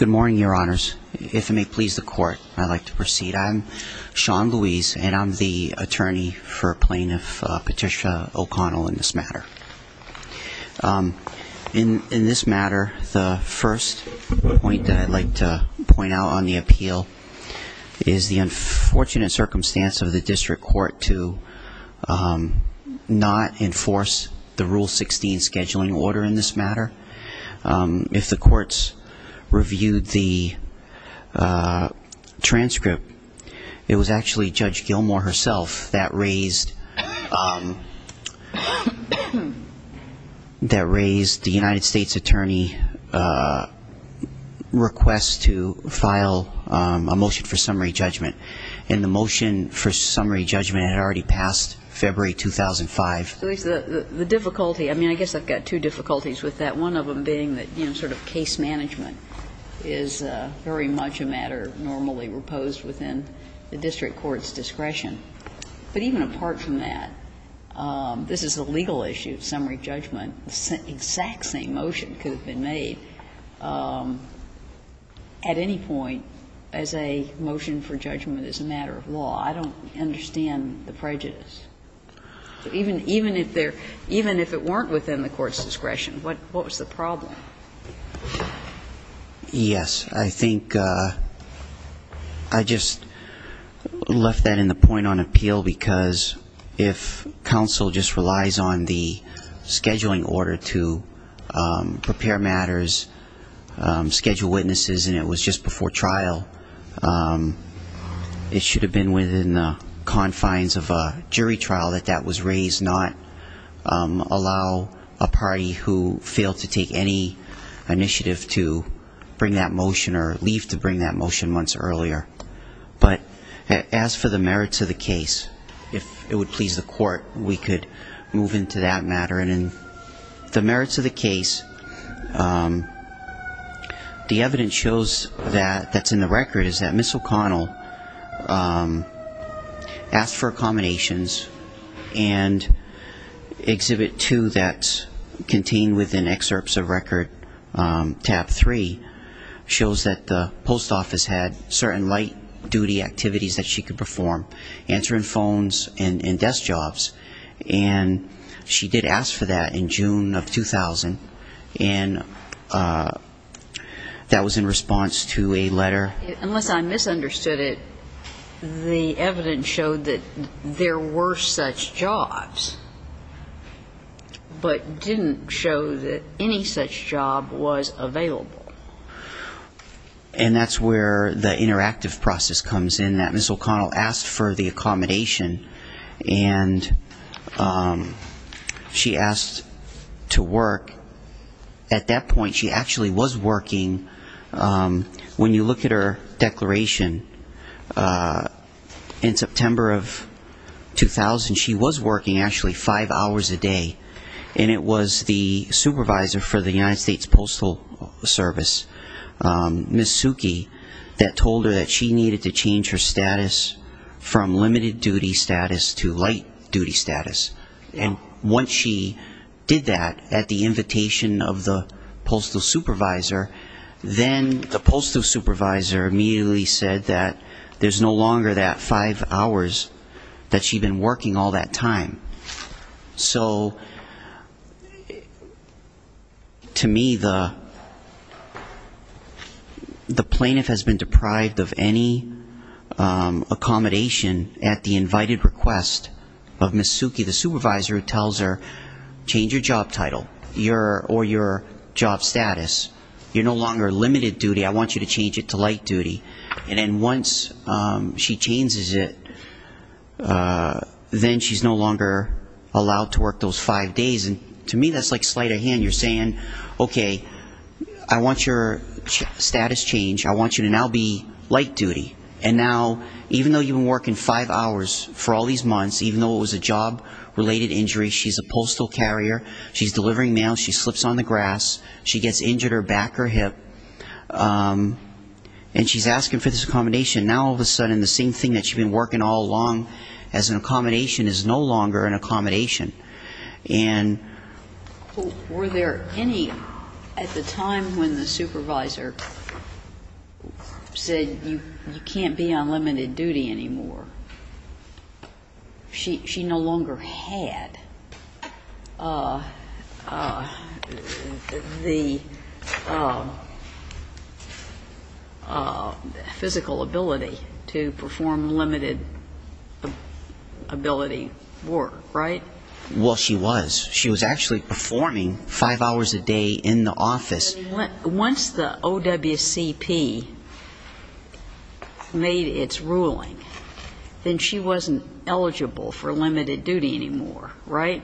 Good morning, Your Honors. If it may please the Court, I'd like to proceed. I'm Sean Louise, and I'm the attorney for Plaintiff Patricia O'Connell in this matter. In this matter, the first point that I'd like to point out on the appeal is the unfortunate circumstance of the District Court to not enforce the Rule 16 scheduling order in this to file a motion for summary judgment, and the motion for summary judgment had already passed February 2005. So the difficulty, I mean, I guess I've got two difficulties with that, one of them being that sort of case management is very much a matter normally proposed within a District Court's discretion, but even apart from that, this is a legal issue, summary judgment, the exact same motion could have been made at any point as a motion for judgment as a matter of law. I don't understand the prejudice. Even if there – even if it weren't within the Court's discretion, what was the problem? Yes, I think I just left that in the point on appeal because if counsel just relies on the scheduling order to prepare matters, schedule witnesses, and it was just before trial, it should have been within the confines of a jury trial that that was raised, not allow a party who failed to take any initiative to bring that motion or leave to bring that motion months earlier. But as for the merits of the case, if it would please the Court, we could move into that matter, and in the merits of the case, the evidence shows that – that's in the record is that Ms. O'Connell asked for accommodations, and Exhibit 2 that's contained within excerpts of record, Tab 3, shows that the post office had certain light-duty activities that she could perform, answering phones and desk jobs, and she did ask for that in June of 2000, and that was in response to a letter. Unless I misunderstood it, the evidence showed that there were such jobs, but didn't show that any such job was available. And that's where the interactive process comes in, that Ms. O'Connell asked for the At that point, she actually was working – when you look at her declaration, in September of 2000, she was working actually five hours a day, and it was the supervisor for the United States Postal Service, Ms. Suki, that told her that she needed to change her status from postal supervisor, then the postal supervisor immediately said that there's no longer that five hours that she'd been working all that time. So to me, the plaintiff has been deprived of any accommodation at the invited request of Ms. Suki, the supervisor, who tells her, change your job title or your job status. You're no longer limited duty. I want you to change it to light duty, and then once she changes it, then she's no longer allowed to work those five days, and to me, that's like sleight of hand. You're saying, okay, I want your status changed. I want you to now be light duty, and now, even though you've been working five hours for all these months, even though it was a job-related injury, she's a postal carrier. She's delivering mail. She slips on the grass. She gets injured her back or hip, and she's asking for this accommodation. Now all of a sudden, the same thing that she'd been working all along as an accommodation is no longer an accommodation, and – She no longer had the physical ability to perform limited ability work, right? Well, she was. She was actually performing five hours a day in the office. Once the OWCP made its ruling, then she wasn't eligible for limited duty anymore, right?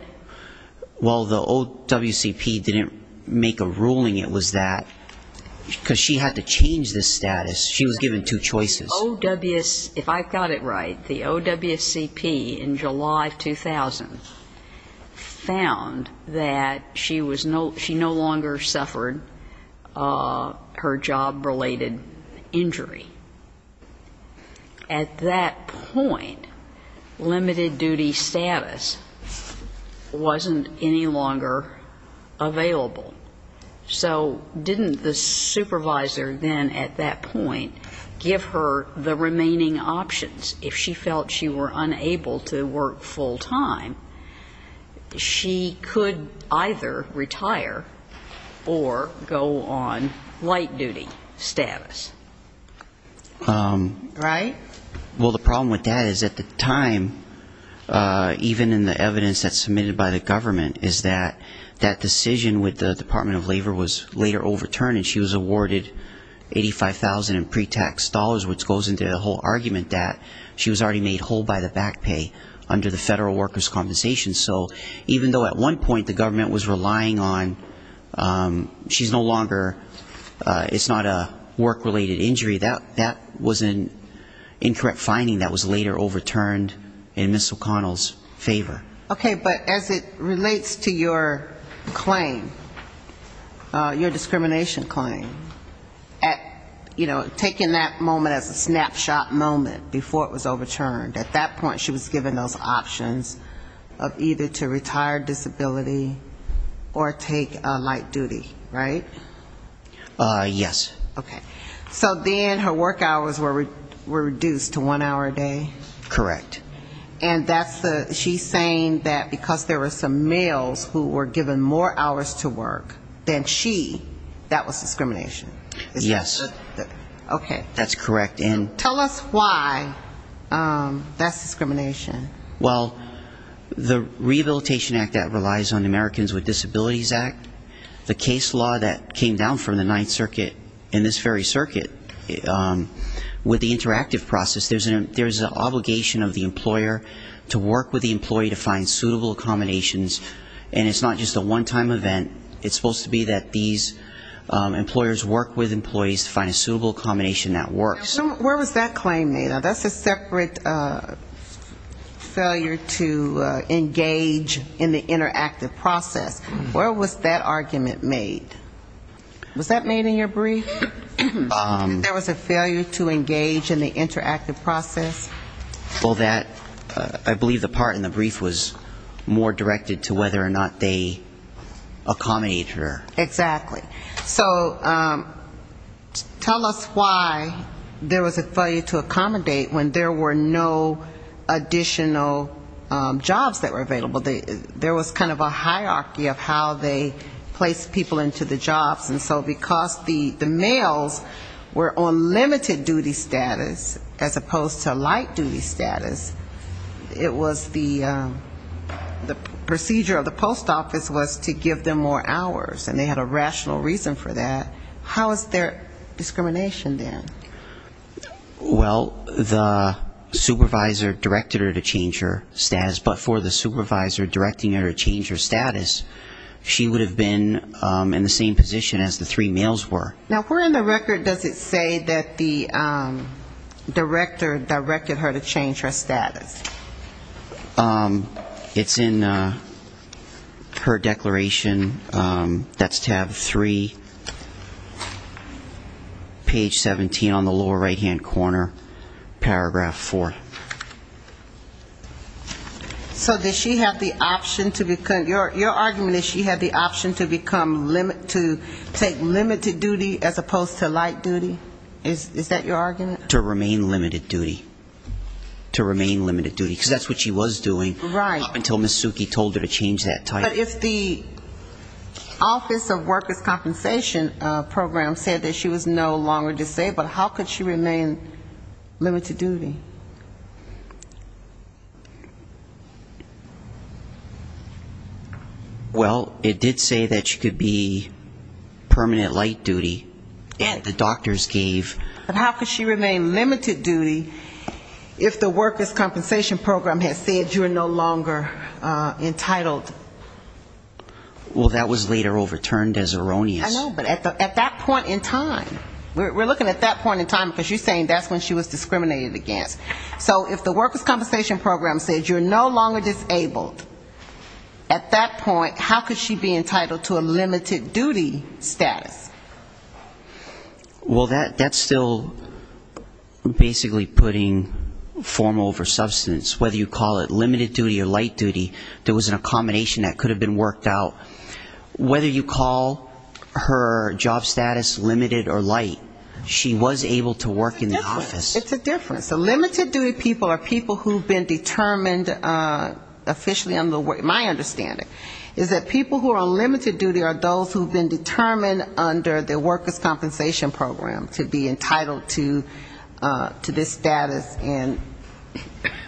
Well, the OWCP didn't make a ruling. It was that – because she had to change this status. She was given two choices. If I've got it right, the OWCP in July of 2000 found that she was – she no longer suffered her job-related injury. At that point, limited duty status wasn't any longer available. So didn't the supervisor then at that point give her the remaining options? If she felt she were unable to work full-time, she could either retire or go on light-duty status. Right? Well, the problem with that is at the time, even in the evidence that's submitted by the government, is that that decision with the Department of Labor was later overturned, and she was awarded $85,000 in pre-tax dollars, which goes into the whole argument that she was already made whole by the back pay under the Federal Workers' Compensation. So even though at one point the government was relying on – she's no longer – it's not a work-related injury. That was an incorrect finding that was later overturned in Ms. O'Connell's favor. Okay. But as it relates to your claim, your discrimination claim, at – you know, taking that moment as a snapshot moment before it was overturned, at that point she was given those options of either to retire disability or take light-duty, right? Yes. Okay. So then her work hours were reduced to one hour a day? Correct. And that's the – she's saying that because there were some males who were given more hours to work than she, that was discrimination? Yes. Okay. That's correct. And – Tell us why that's discrimination. Well, the Rehabilitation Act that relies on the Americans with Disabilities Act, the case law that came down from the Ninth Circuit in this very circuit, with the interactive process, there's an obligation of the employer to work with the employee to find suitable accommodations. And it's not just a one-time event. It's supposed to be that these employers work with employees to find a suitable accommodation that works. So where was that claim made? Now, that's a separate failure to engage in the interactive process. Where was that argument made? Was that made in your brief, that there was a failure to engage in the interactive process? Well, that – I believe the part in the brief was more directed to whether or not they accommodated her. Exactly. So tell us why there was a failure to accommodate when there were no additional jobs that were available. There was kind of a hierarchy of how they placed people into the jobs. And so because the males were on limited-duty status, as opposed to light-duty status, it was the procedure of the post office was to give them more hours. And they had a rational reason for that. How is there discrimination there? Well, the supervisor directed her to change her status. But for the supervisor directing her to change her status, she would have been in the same position as the three males were. Now, where in the record does it say that the director directed her to change her status? It's in her declaration. That's tab 3, page 17 on the lower right-hand corner, paragraph 4. So does she have the option to become – your argument is she had the option to take limited-duty as opposed to light-duty? Is that your argument? To remain limited-duty. To remain limited-duty. Because that's what she was doing up until Ms. Suki told her to change that title. Right. But if the Office of Workers' Compensation Program said that she was no longer disabled, how could she remain limited-duty? Well, it did say that she could be permanent light-duty, and the doctors gave – But how could she remain limited-duty if the Workers' Compensation Program has said you are no longer entitled? Well, that was later overturned as erroneous. I know, but at that point in time – we're looking at that point in time because you're discriminated against. So if the Workers' Compensation Program said you're no longer disabled, at that point, how could she be entitled to a limited-duty status? Well, that's still basically putting form over substance. Whether you call it limited-duty or light-duty, there was an accommodation that could have been worked out. Whether you call her job status limited or light, she was able to work in the office. It's a difference. So limited-duty people are people who have been determined officially on the work – my understanding is that people who are on limited duty are those who have been determined under the Workers' Compensation Program to be entitled to this status, and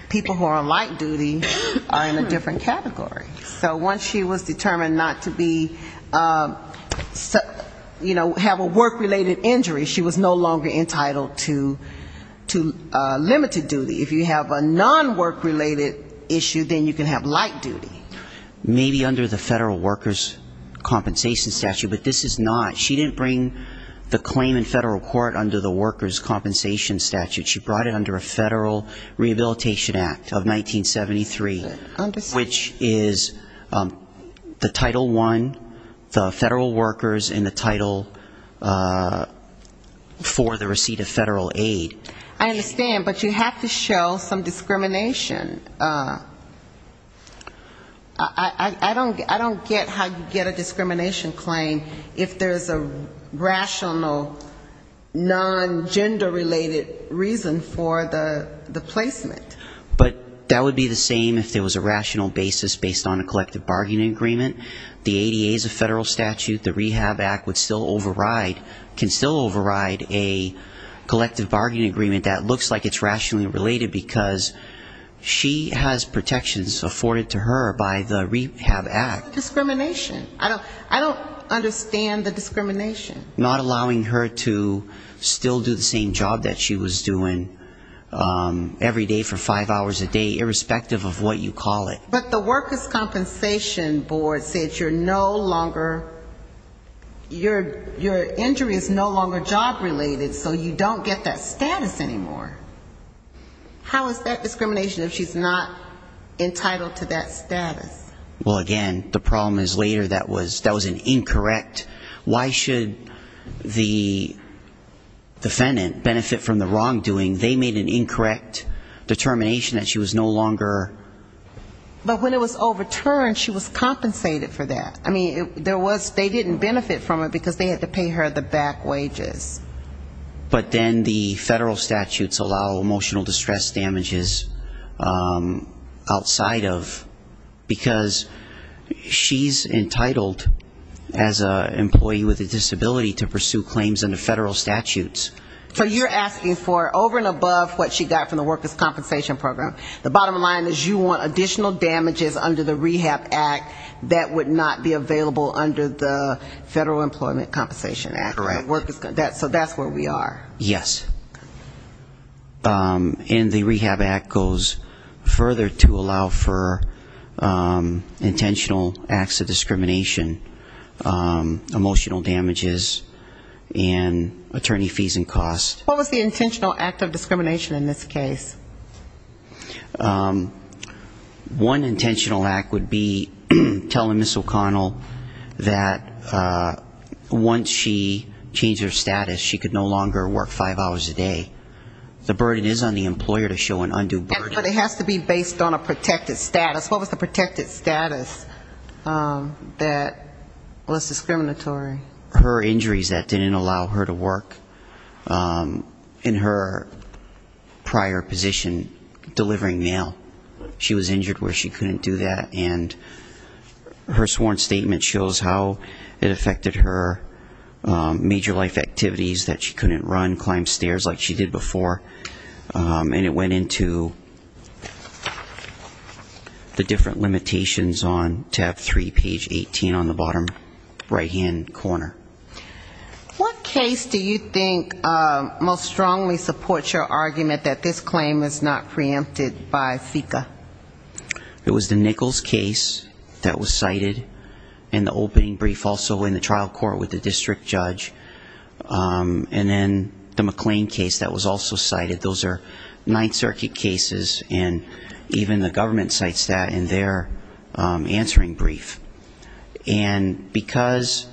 people who are on light-duty are in a different category. So once she was determined not to be – you know, have a work-related injury, she was no longer entitled to limited-duty. If you have a non-work-related issue, then you can have light-duty. Maybe under the Federal Workers' Compensation Statute, but this is not. She didn't bring the claim in federal court under the Workers' Compensation Statute. She brought it under a Federal Rehabilitation Act of 1973, which is the Title I, the federal the receipt of federal aid. I understand, but you have to show some discrimination. I don't get how you get a discrimination claim if there's a rational, non-gender-related reason for the placement. But that would be the same if there was a rational basis based on a collective bargaining agreement. The ADA is a federal statute. The Rehab Act would still override – can still override a collective bargaining agreement that looks like it's rationally related because she has protections afforded to her by the Rehab Act. Discrimination. I don't understand the discrimination. Not allowing her to still do the same job that she was doing every day for five hours a day, irrespective of what you call it. But the Workers' Compensation Board said you're no longer – your injury is no longer job-related, so you don't get that status anymore. How is that discrimination if she's not entitled to that status? Well, again, the problem is later that was an incorrect – why should the defendant benefit from the wrongdoing? They made an incorrect determination that she was no longer – But when it was overturned, she was compensated for that. I mean, there was – they didn't benefit from it because they had to pay her the back wages. But then the federal statutes allow emotional distress damages outside of – because she's entitled as an employee with a disability to pursue claims under federal statutes. So you're asking for over and above what she got from the Workers' Compensation Program. The bottom line is you want additional damages under the Rehab Act that would not be available under the Federal Employment Compensation Act. Correct. So that's where we are. Yes. And the Rehab Act goes further to allow for intentional acts of discrimination, emotional damages, and attorney fees and costs. What was the intentional act of discrimination in this case? One intentional act would be telling Ms. O'Connell that once she changed her status, she could no longer work five hours a day. The burden is on the employer to show an undue burden. But it has to be based on a protected status. What was the protected status that was discriminatory? Her injuries that didn't allow her to work in her prior position delivering mail. She was injured where she couldn't do that. And her sworn statement shows how it affected her major life activities that she couldn't run, climb stairs like she did before. And it went into the different limitations on tab 3, page 18 on the bottom right-hand corner. What case do you think most strongly supports your argument that this claim is not preempted by FECA? It was the Nichols case that was cited in the opening brief, also in the trial court with the district judge. And then the McLean case that was also cited. Those are Ninth Circuit cases, and even the government cites that in their answering brief. And because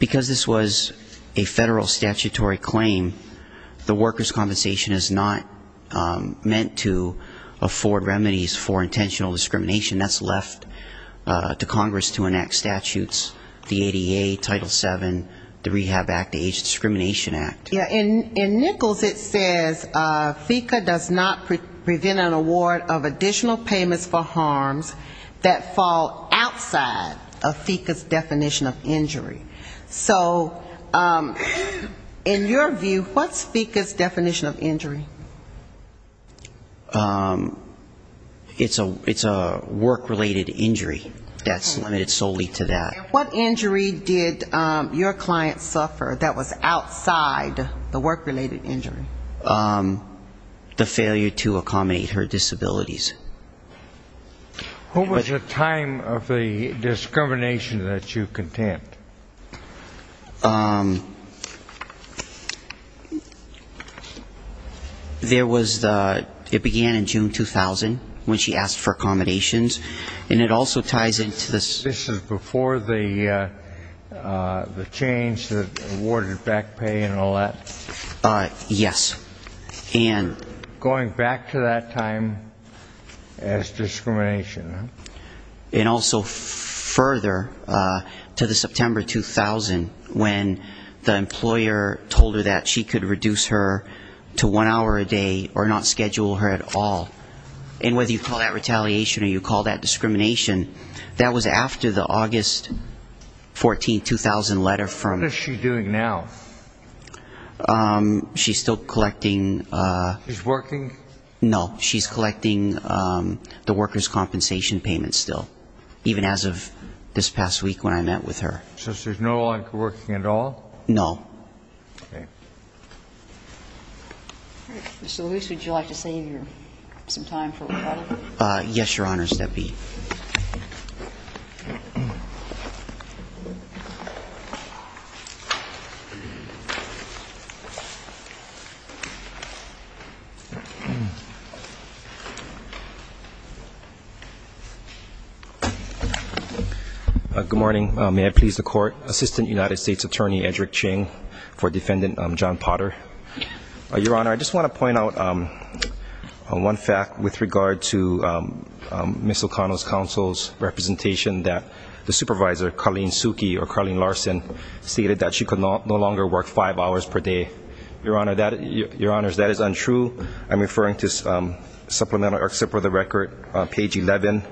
this was a federal statutory claim, the workers' compensation is not meant to afford remedies for intentional discrimination. That's left to Congress to enact statutes, the ADA, Title VII, the Rehab Act, the Age Discrimination Act. In Nichols it says, FECA does not prevent an award of additional payments for harms that fall outside of FECA's definition of injury. So in your view, what's FECA's definition of injury? It's a work-related injury that's limited solely to that. What injury did your client suffer that was outside the work-related injury? The failure to accommodate her disabilities. Who was the time of the discrimination that you contend? There was the ‑‑ it began in June 2000 when she asked for accommodations. And it also ties into this ‑‑ This is before the change that awarded back pay and all that? Yes. Going back to that time as discrimination. And also further to the September 2000 when the employer told her that she could reduce her to one hour a day or not schedule her at all. And whether you call that retaliation or you call that discrimination, that was after the August 14, 2000 letter from ‑‑ What is she doing now? She's still collecting ‑‑ She's working? No. She's collecting the workers' compensation payments still. Even as of this past week when I met with her. So she's no longer working at all? No. Okay. Mr. Lewis, would you like to save your ‑‑ some time for a rebuttal? Yes, Your Honors. That'd be ‑‑ Good morning. May I please the court? Assistant United States Attorney Edric Ching for Defendant John Potter. Your Honor, I just want to point out one fact with regard to Ms. O'Connell's counsel's representation that the supervisor, Colleen Suki, or Colleen Larson, stated that she could no longer work five hours per day. Your Honor, that is untrue. I'm referring to supplemental excerpt for the record, page 11,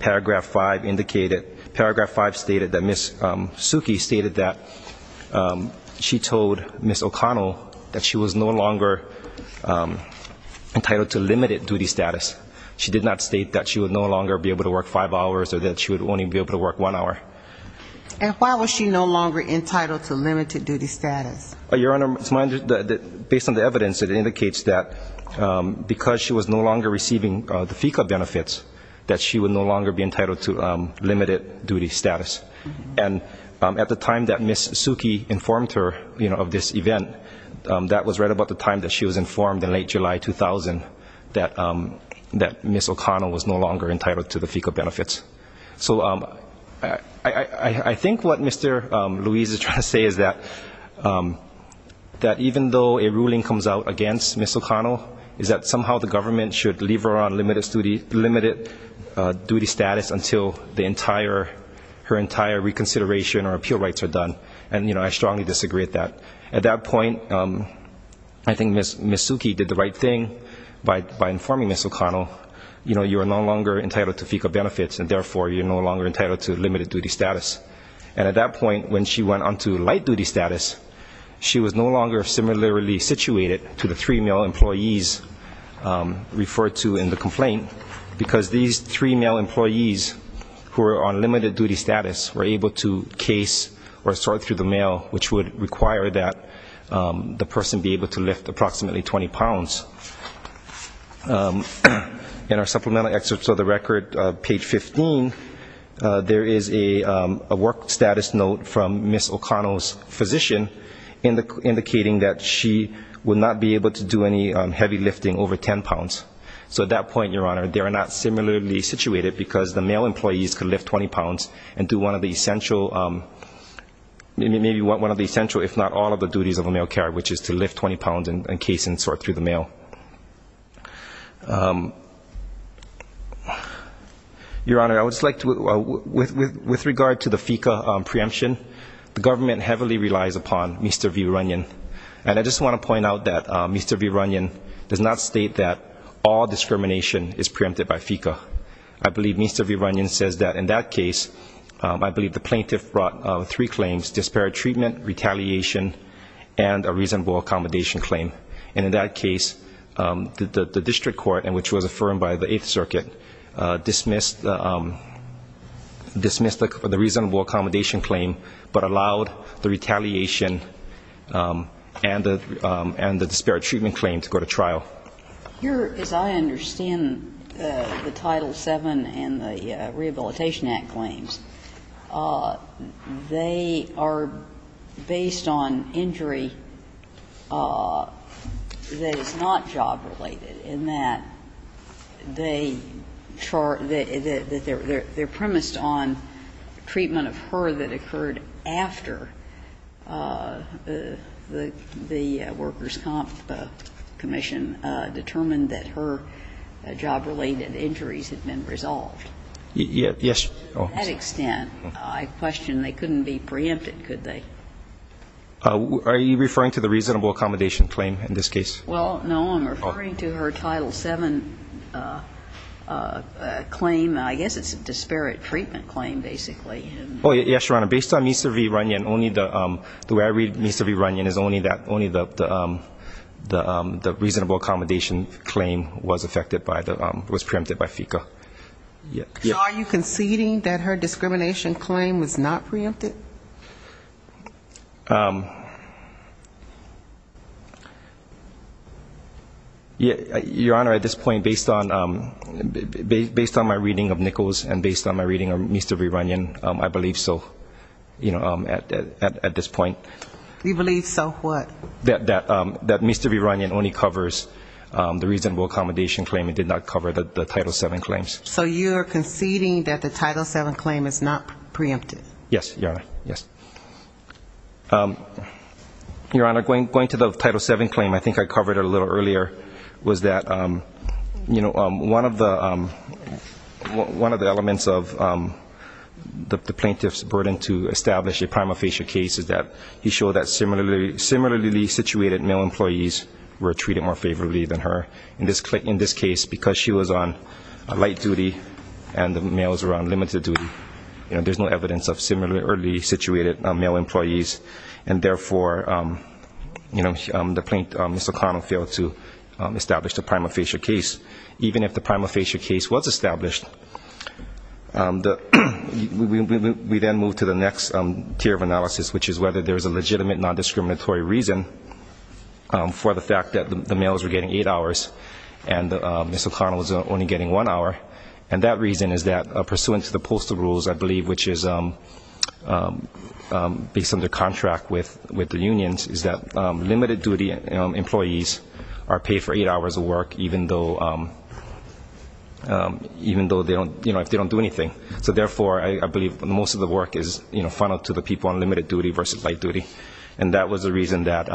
paragraph 5 stated that Ms. Suki stated that she told Ms. O'Connell that she was no longer entitled to limited duty status. She did not state that she would no longer be able to work five hours or that she would only be able to work one hour. And why was she no longer entitled to limited duty status? Your Honor, based on the evidence, it indicates that because she was no longer receiving the limited duty status. And at the time that Ms. Suki informed her of this event, that was right about the time that she was informed in late July 2000 that Ms. O'Connell was no longer entitled to the FECA benefits. So I think what Mr. Louise is trying to say is that even though a ruling comes out against Ms. O'Connell is that somehow the government should leave her on limited duty status until the entire, her entire reconsideration or appeal rights are done. And you know, I strongly disagree with that. At that point, I think Ms. Suki did the right thing by informing Ms. O'Connell, you know, you are no longer entitled to FECA benefits and therefore you're no longer entitled to limited duty status. And at that point when she went on to light duty status, she was no longer similarly situated to the three male employees referred to in the complaint. Because these three male employees who are on limited duty status were able to case or sort through the mail, which would require that the person be able to lift approximately 20 pounds. In our supplemental excerpts of the record, page 15, there is a work status note from be able to do any heavy lifting over 10 pounds. So at that point, Your Honor, they are not similarly situated because the male employees could lift 20 pounds and do one of the essential, maybe one of the essential, if not all of the duties of a male care, which is to lift 20 pounds and case and sort through the mail. Your Honor, I would just like to, with regard to the FECA preemption, the government heavily relies upon Mr. V. Runyon. And I just want to point out that Mr. V. Runyon does not state that all discrimination is preempted by FECA. I believe Mr. V. Runyon says that in that case, I believe the plaintiff brought three claims, disparate treatment, retaliation, and a reasonable accommodation claim. And in that case, the district court, which was affirmed by the Eighth Circuit, dismissed the reasonable accommodation claim, but allowed the retaliation and the disparate treatment claim to go to trial. Here, as I understand the Title VII and the Rehabilitation Act claims, they are based on injury that is not job-related, in that they are premised on treatment of her that occurred after the workers' comp commission determined that her job-related injuries had been resolved. Yes. To that extent, I question, they couldn't be preempted, could they? Are you referring to the reasonable accommodation claim in this case? Well, no, I'm referring to her Title VII claim. I guess it's a disparate treatment claim, basically. Oh, yes, Your Honor. Based on Mr. V. Runyon, the way I read Mr. V. Runyon is only the reasonable accommodation claim was preempted by FECA. So are you conceding that her discrimination claim was not preempted? Your Honor, at this point, based on my reading of Nichols and based on my reading of Mr. V. Runyon, I believe so, at this point. You believe so what? That Mr. V. Runyon only covers the reasonable accommodation claim. It did not cover the Title VII claims. So you are conceding that the Title VII claim is not preempted? Yes, Your Honor. Yes. Your Honor, going to the Title VII claim, I think I covered it a little earlier, was that one of the elements of the plaintiff's burden to establish a prima facie case is that he showed that similarly situated male employees were treated more favorably than her in this case because she was on light duty and the males were on limited duty. There is no evidence of similarly situated male employees and therefore the plaintiff, Ms. O'Connell, failed to establish the prima facie case. Even if the prima facie case was established, we then move to the next tier of analysis, which is whether there is a legitimate non-discriminatory reason for the fact that the males were getting eight hours and Ms. O'Connell was only getting one hour. And that reason is that pursuant to the postal rules, I believe, which is based on the contract with the unions, is that limited duty employees are paid for eight hours of work even though they don't do anything. So therefore, I believe most of the work is funneled to the people on limited duty versus light duty. And that was the reason that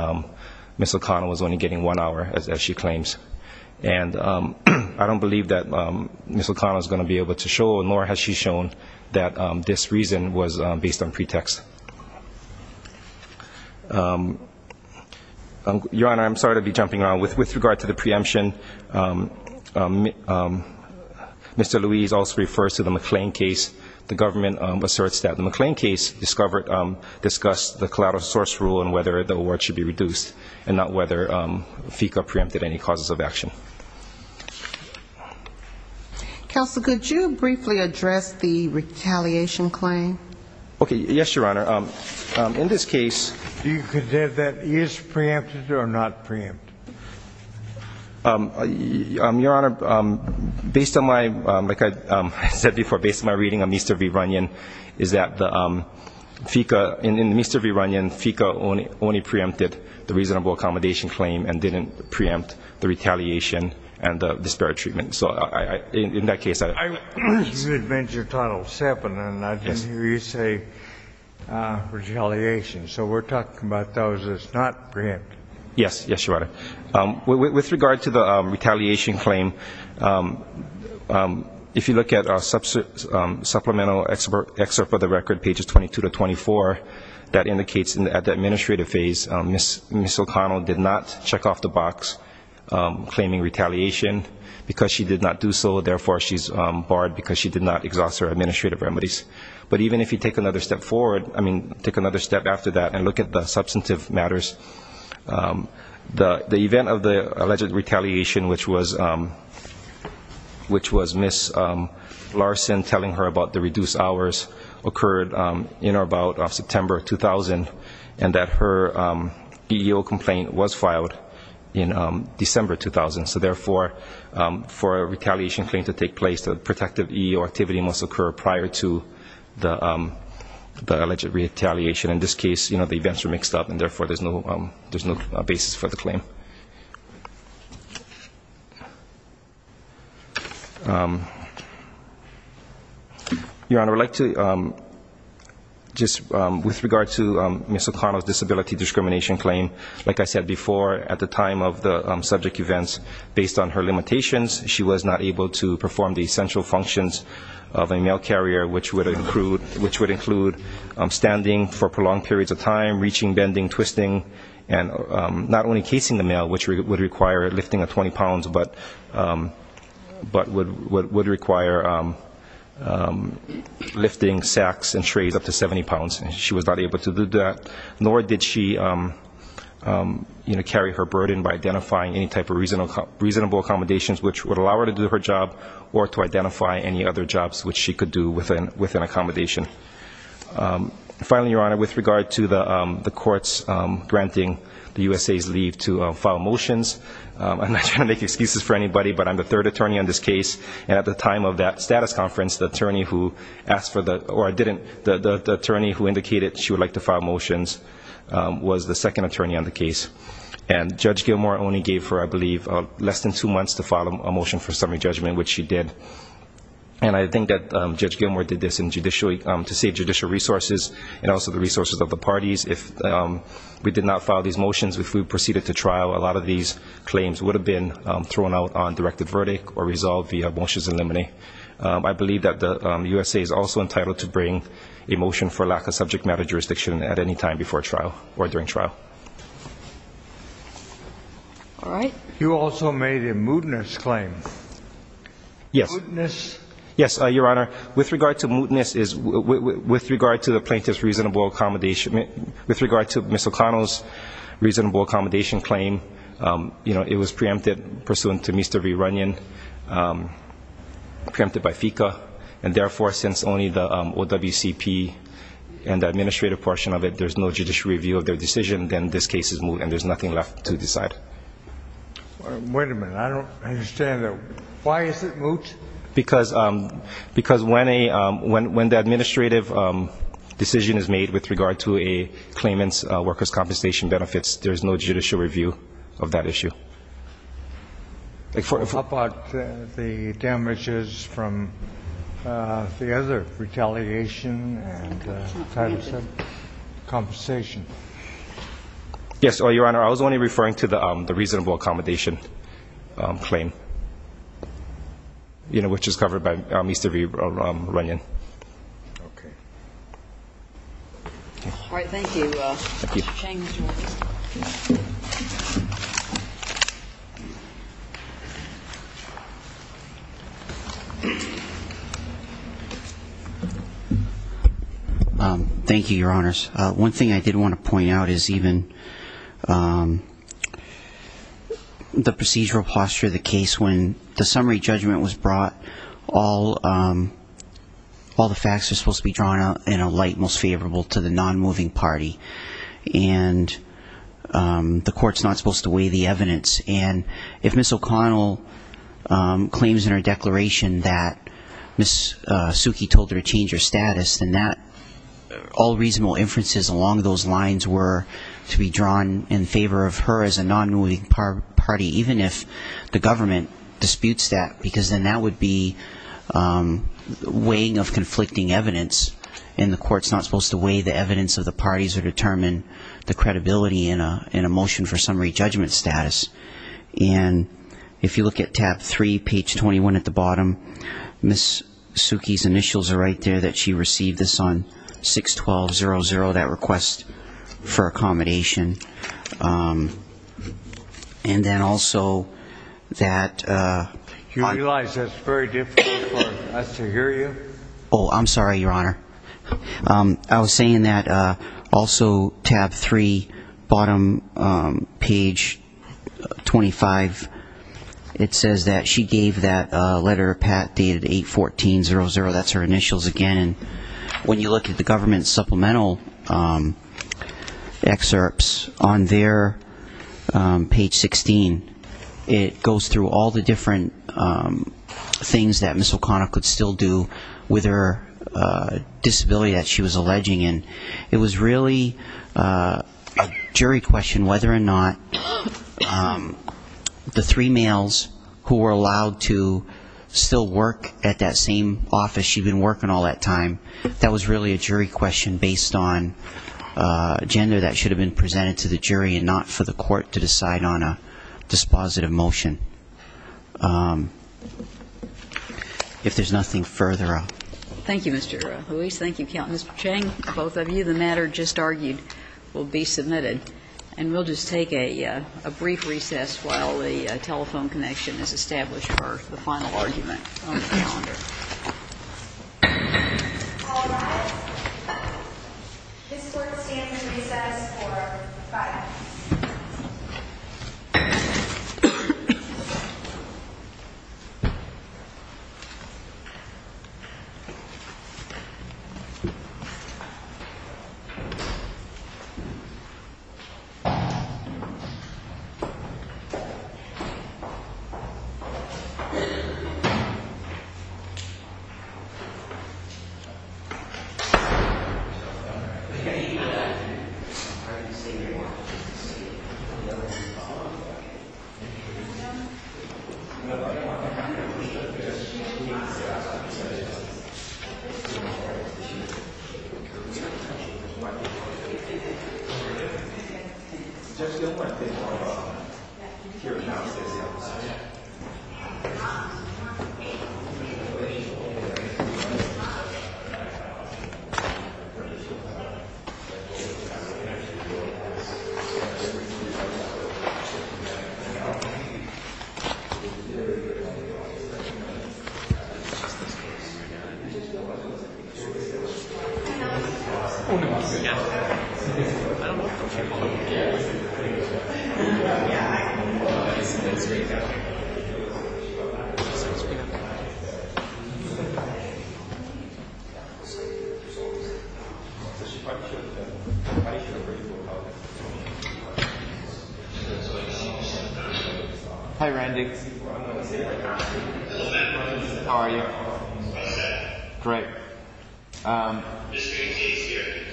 Ms. O'Connell was only getting one hour, as she claims. And I don't believe that Ms. O'Connell is going to be able to show, nor has she shown that this reason was based on pretext. Your Honor, I'm sorry to be jumping around. With regard to the preemption, Mr. Louise also refers to the McLean case. The government asserts that the McLean case discussed the collateral source rule and whether the award should be reduced and not whether FICA preempted any causes of action. Counsel, could you briefly address the retaliation claim? Okay. Yes, Your Honor. In this case do you consider that is preempted or not preempted? Your Honor, based on my, like I said before, based on my reading of Mr. V. Runyon, is that the FICA, in Mr. V. Runyon, FICA only preempted the reasonable accommodation claim and didn't preempt the retaliation and the disparate treatment. So in that case I don't know. You mentioned Title VII, and I didn't hear you say retaliation. So we're talking about those that's not preempted. Yes. Yes, Your Honor. With regard to the retaliation claim, if you look at supplemental excerpt for the record, pages 22 to 24, that indicates at the administrative phase Ms. O'Connell did not check off the box claiming retaliation because she did not do so, therefore she's barred because she did not exhaust her administrative remedies. But even if you take another step forward, I mean take another step after that and look at the substantive matters, the event of the alleged retaliation, which was Ms. Larson telling her about the reduced hours occurred in or about September 2000 and that her EEO complaint was filed in December 2000. So therefore, for a retaliation claim to take place, a protective EEO activity must occur prior to the alleged retaliation. In this case, the events were mixed up, and therefore there's no basis for the claim. Your Honor, with regard to Ms. O'Connell's disability discrimination claim, like I said before, at the time of the subject events, based on her limitations, she was not able to perform the essential functions of a mail carrier, which would include standing for prolonged periods of time, reaching, bending, twisting, and not only casing the mail, which would require lifting 20 pounds, but would require lifting sacks and trays up to 70 pounds. She was not able to do that, nor did she carry her burden by identifying any type of reasonable accommodations, which would allow her to do her job or to identify any other jobs which she could do with an accommodation. Finally, Your Honor, with regard to the courts granting the USA's leave to file motions, I'm not trying to make excuses for anybody, but I'm the third attorney on this case, and at the time of that status conference, the attorney who indicated she would like to file motions was the second attorney on the case. And Judge Gilmour only gave her, I believe, less than two months to file a motion for summary judgment, which she did. And I think that Judge Gilmour did this to save judicial resources and also the resources of the parties. If we did not file these motions, if we proceeded to trial, a lot of these claims would have been thrown out on directed verdict or resolved via motions in limine. I believe that the USA is also entitled to bring a motion for lack of subject matter jurisdiction at any time before trial or during trial. All right. You also made a mootness claim. Yes. Mootness. Yes, Your Honor. With regard to the plaintiff's reasonable accommodation, with regard to Ms. O'Connell's reasonable accommodation claim, it was preempted pursuant to Mr. V. Runyon, preempted by FECA, and therefore since only the OWCP and the administrative portion of it, there's no judicial review of their decision, then this case is moot and there's nothing left to decide. Wait a minute. I don't understand. Why is it moot? Because when the administrative decision is made with regard to a claimant's workers' compensation benefits, there's no judicial review of that issue. What about the damages from the other retaliation and compensation? Yes, Your Honor. I was only referring to the reasonable accommodation claim, you know, which is covered by Mr. V. Runyon. Okay. All right. Thank you. Thank you. Mr. Chang, would you like to start? Thank you, Your Honors. One thing I did want to point out is even the procedural posture of the case when the summary judgment was brought, all the facts are supposed to be drawn in a light most favorable to the nonmoving party, and the court's not supposed to weigh the evidence. And if Ms. O'Connell claims in her declaration that Ms. Suki told her to change her status, then all reasonable inferences along those lines were to be drawn in favor of her as a nonmoving party, even if the government disputes that, because then that would be weighing of conflicting evidence, and the court's not supposed to weigh the evidence of the parties or determine the credibility in a motion for summary judgment status. And if you look at tab three, page 21 at the bottom, Ms. Suki's initials are right there that she received this on 6-12-00, that request for accommodation. And then also that ---- You realize that's very difficult for us to hear you? Oh, I'm sorry, Your Honor. I was saying that also tab three, bottom page 25, it says that she gave that letter, Pat, dated 8-14-00. That's her initials again. When you look at the government's supplemental excerpts on there, page 16, it goes through all the different things that Ms. O'Connell could still do with her disability that she was alleging. And it was really a jury question whether or not the three males who were allowed to still work at that same office because she'd been working all that time. That was really a jury question based on a gender that should have been presented to the jury and not for the court to decide on a dispositive motion. If there's nothing further, I'll ---- Thank you, Mr. Ruiz. Thank you, Count and Mr. Chang, both of you. The matter just argued will be submitted. And we'll just take a brief recess while the telephone connection is established for the final argument on the calendar. All rise. This court stands to recess for five minutes. Thank you. Hi, Randy. How are you? Great.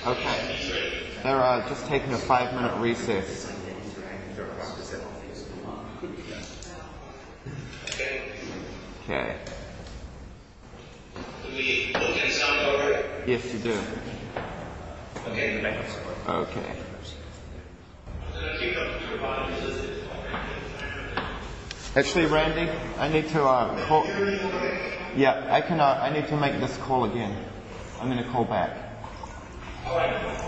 Okay. They're just taking a five-minute recess. Okay. Okay. Yes, you do. Okay. Actually, Randy, I need to call ---- Yeah. I need to make this call again. I'm going to call back. All right.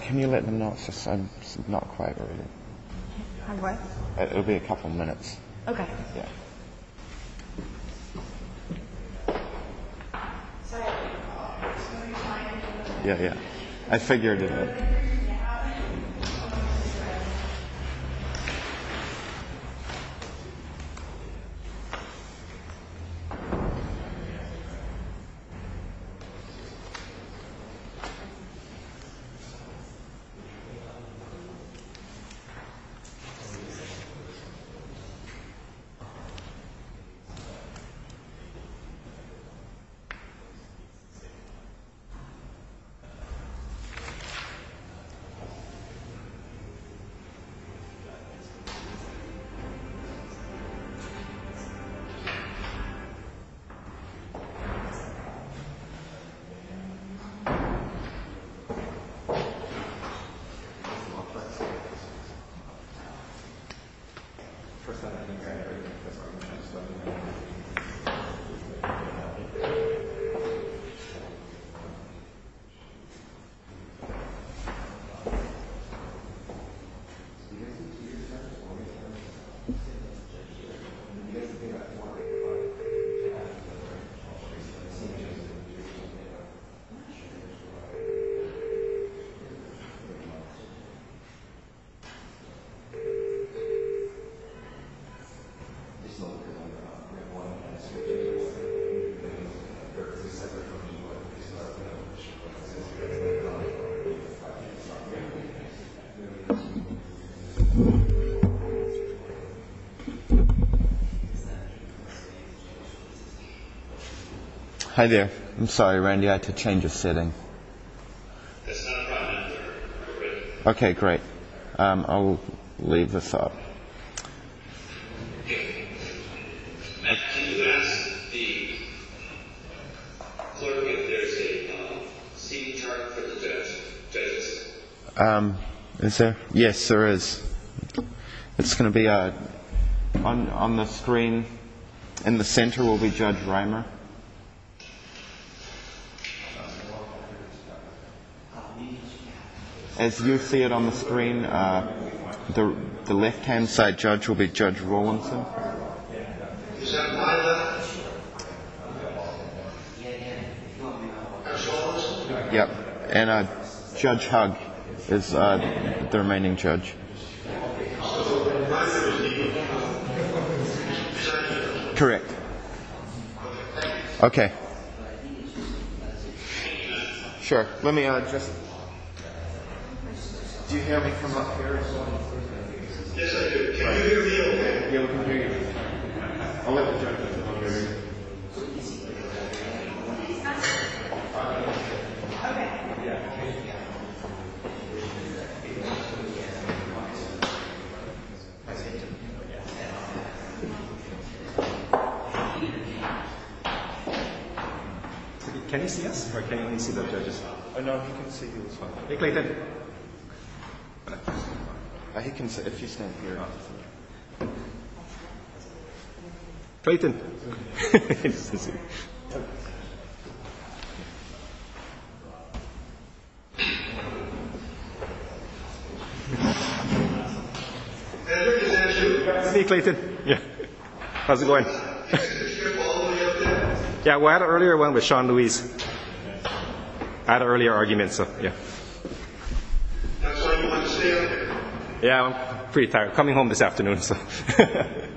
Can you let them know it's just not quite ready? Hang on. It'll be a couple minutes. Okay. Yeah. Yeah, yeah. I figured it out. Okay. Thank you. Hi, there. I'm sorry, Randy. I had to change a setting. Okay, great. I'll leave this up. Is there? Yes, there is. It's going to be on the screen. In the center will be Judge Raymer. As you see it on the screen, the left-hand side judge will be Judge Rawlinson. Is that Tyler? Yeah, yeah. Judge Rawlinson? Yeah. And Judge Hug is the remaining judge. Correct. Okay. Sure. Let me just. Do you hear me from up here? Yes, I do. Can you hear me okay? Yeah, we can hear you. Okay. Okay. Okay. Okay. Okay. Okay. Okay. Okay. Okay. Okay. Can you see us? Or can you only see the judges? No, he can see you as well. Hey, Clayton. He can see if you stand here. Clayton. He can see. See you, Clayton. Yeah. How's it going? Yeah, I had an earlier one with Sean Lewis. I had an earlier argument, so. Yeah. Yeah, I'm pretty tired. I'm coming home this afternoon, so. Yeah. Yeah. Yeah. Yeah. Yeah. Yeah. Yeah. Yeah. Yeah. Yeah. Yeah. Yeah. Yeah. Yeah. Yeah. Yeah. How do I get it?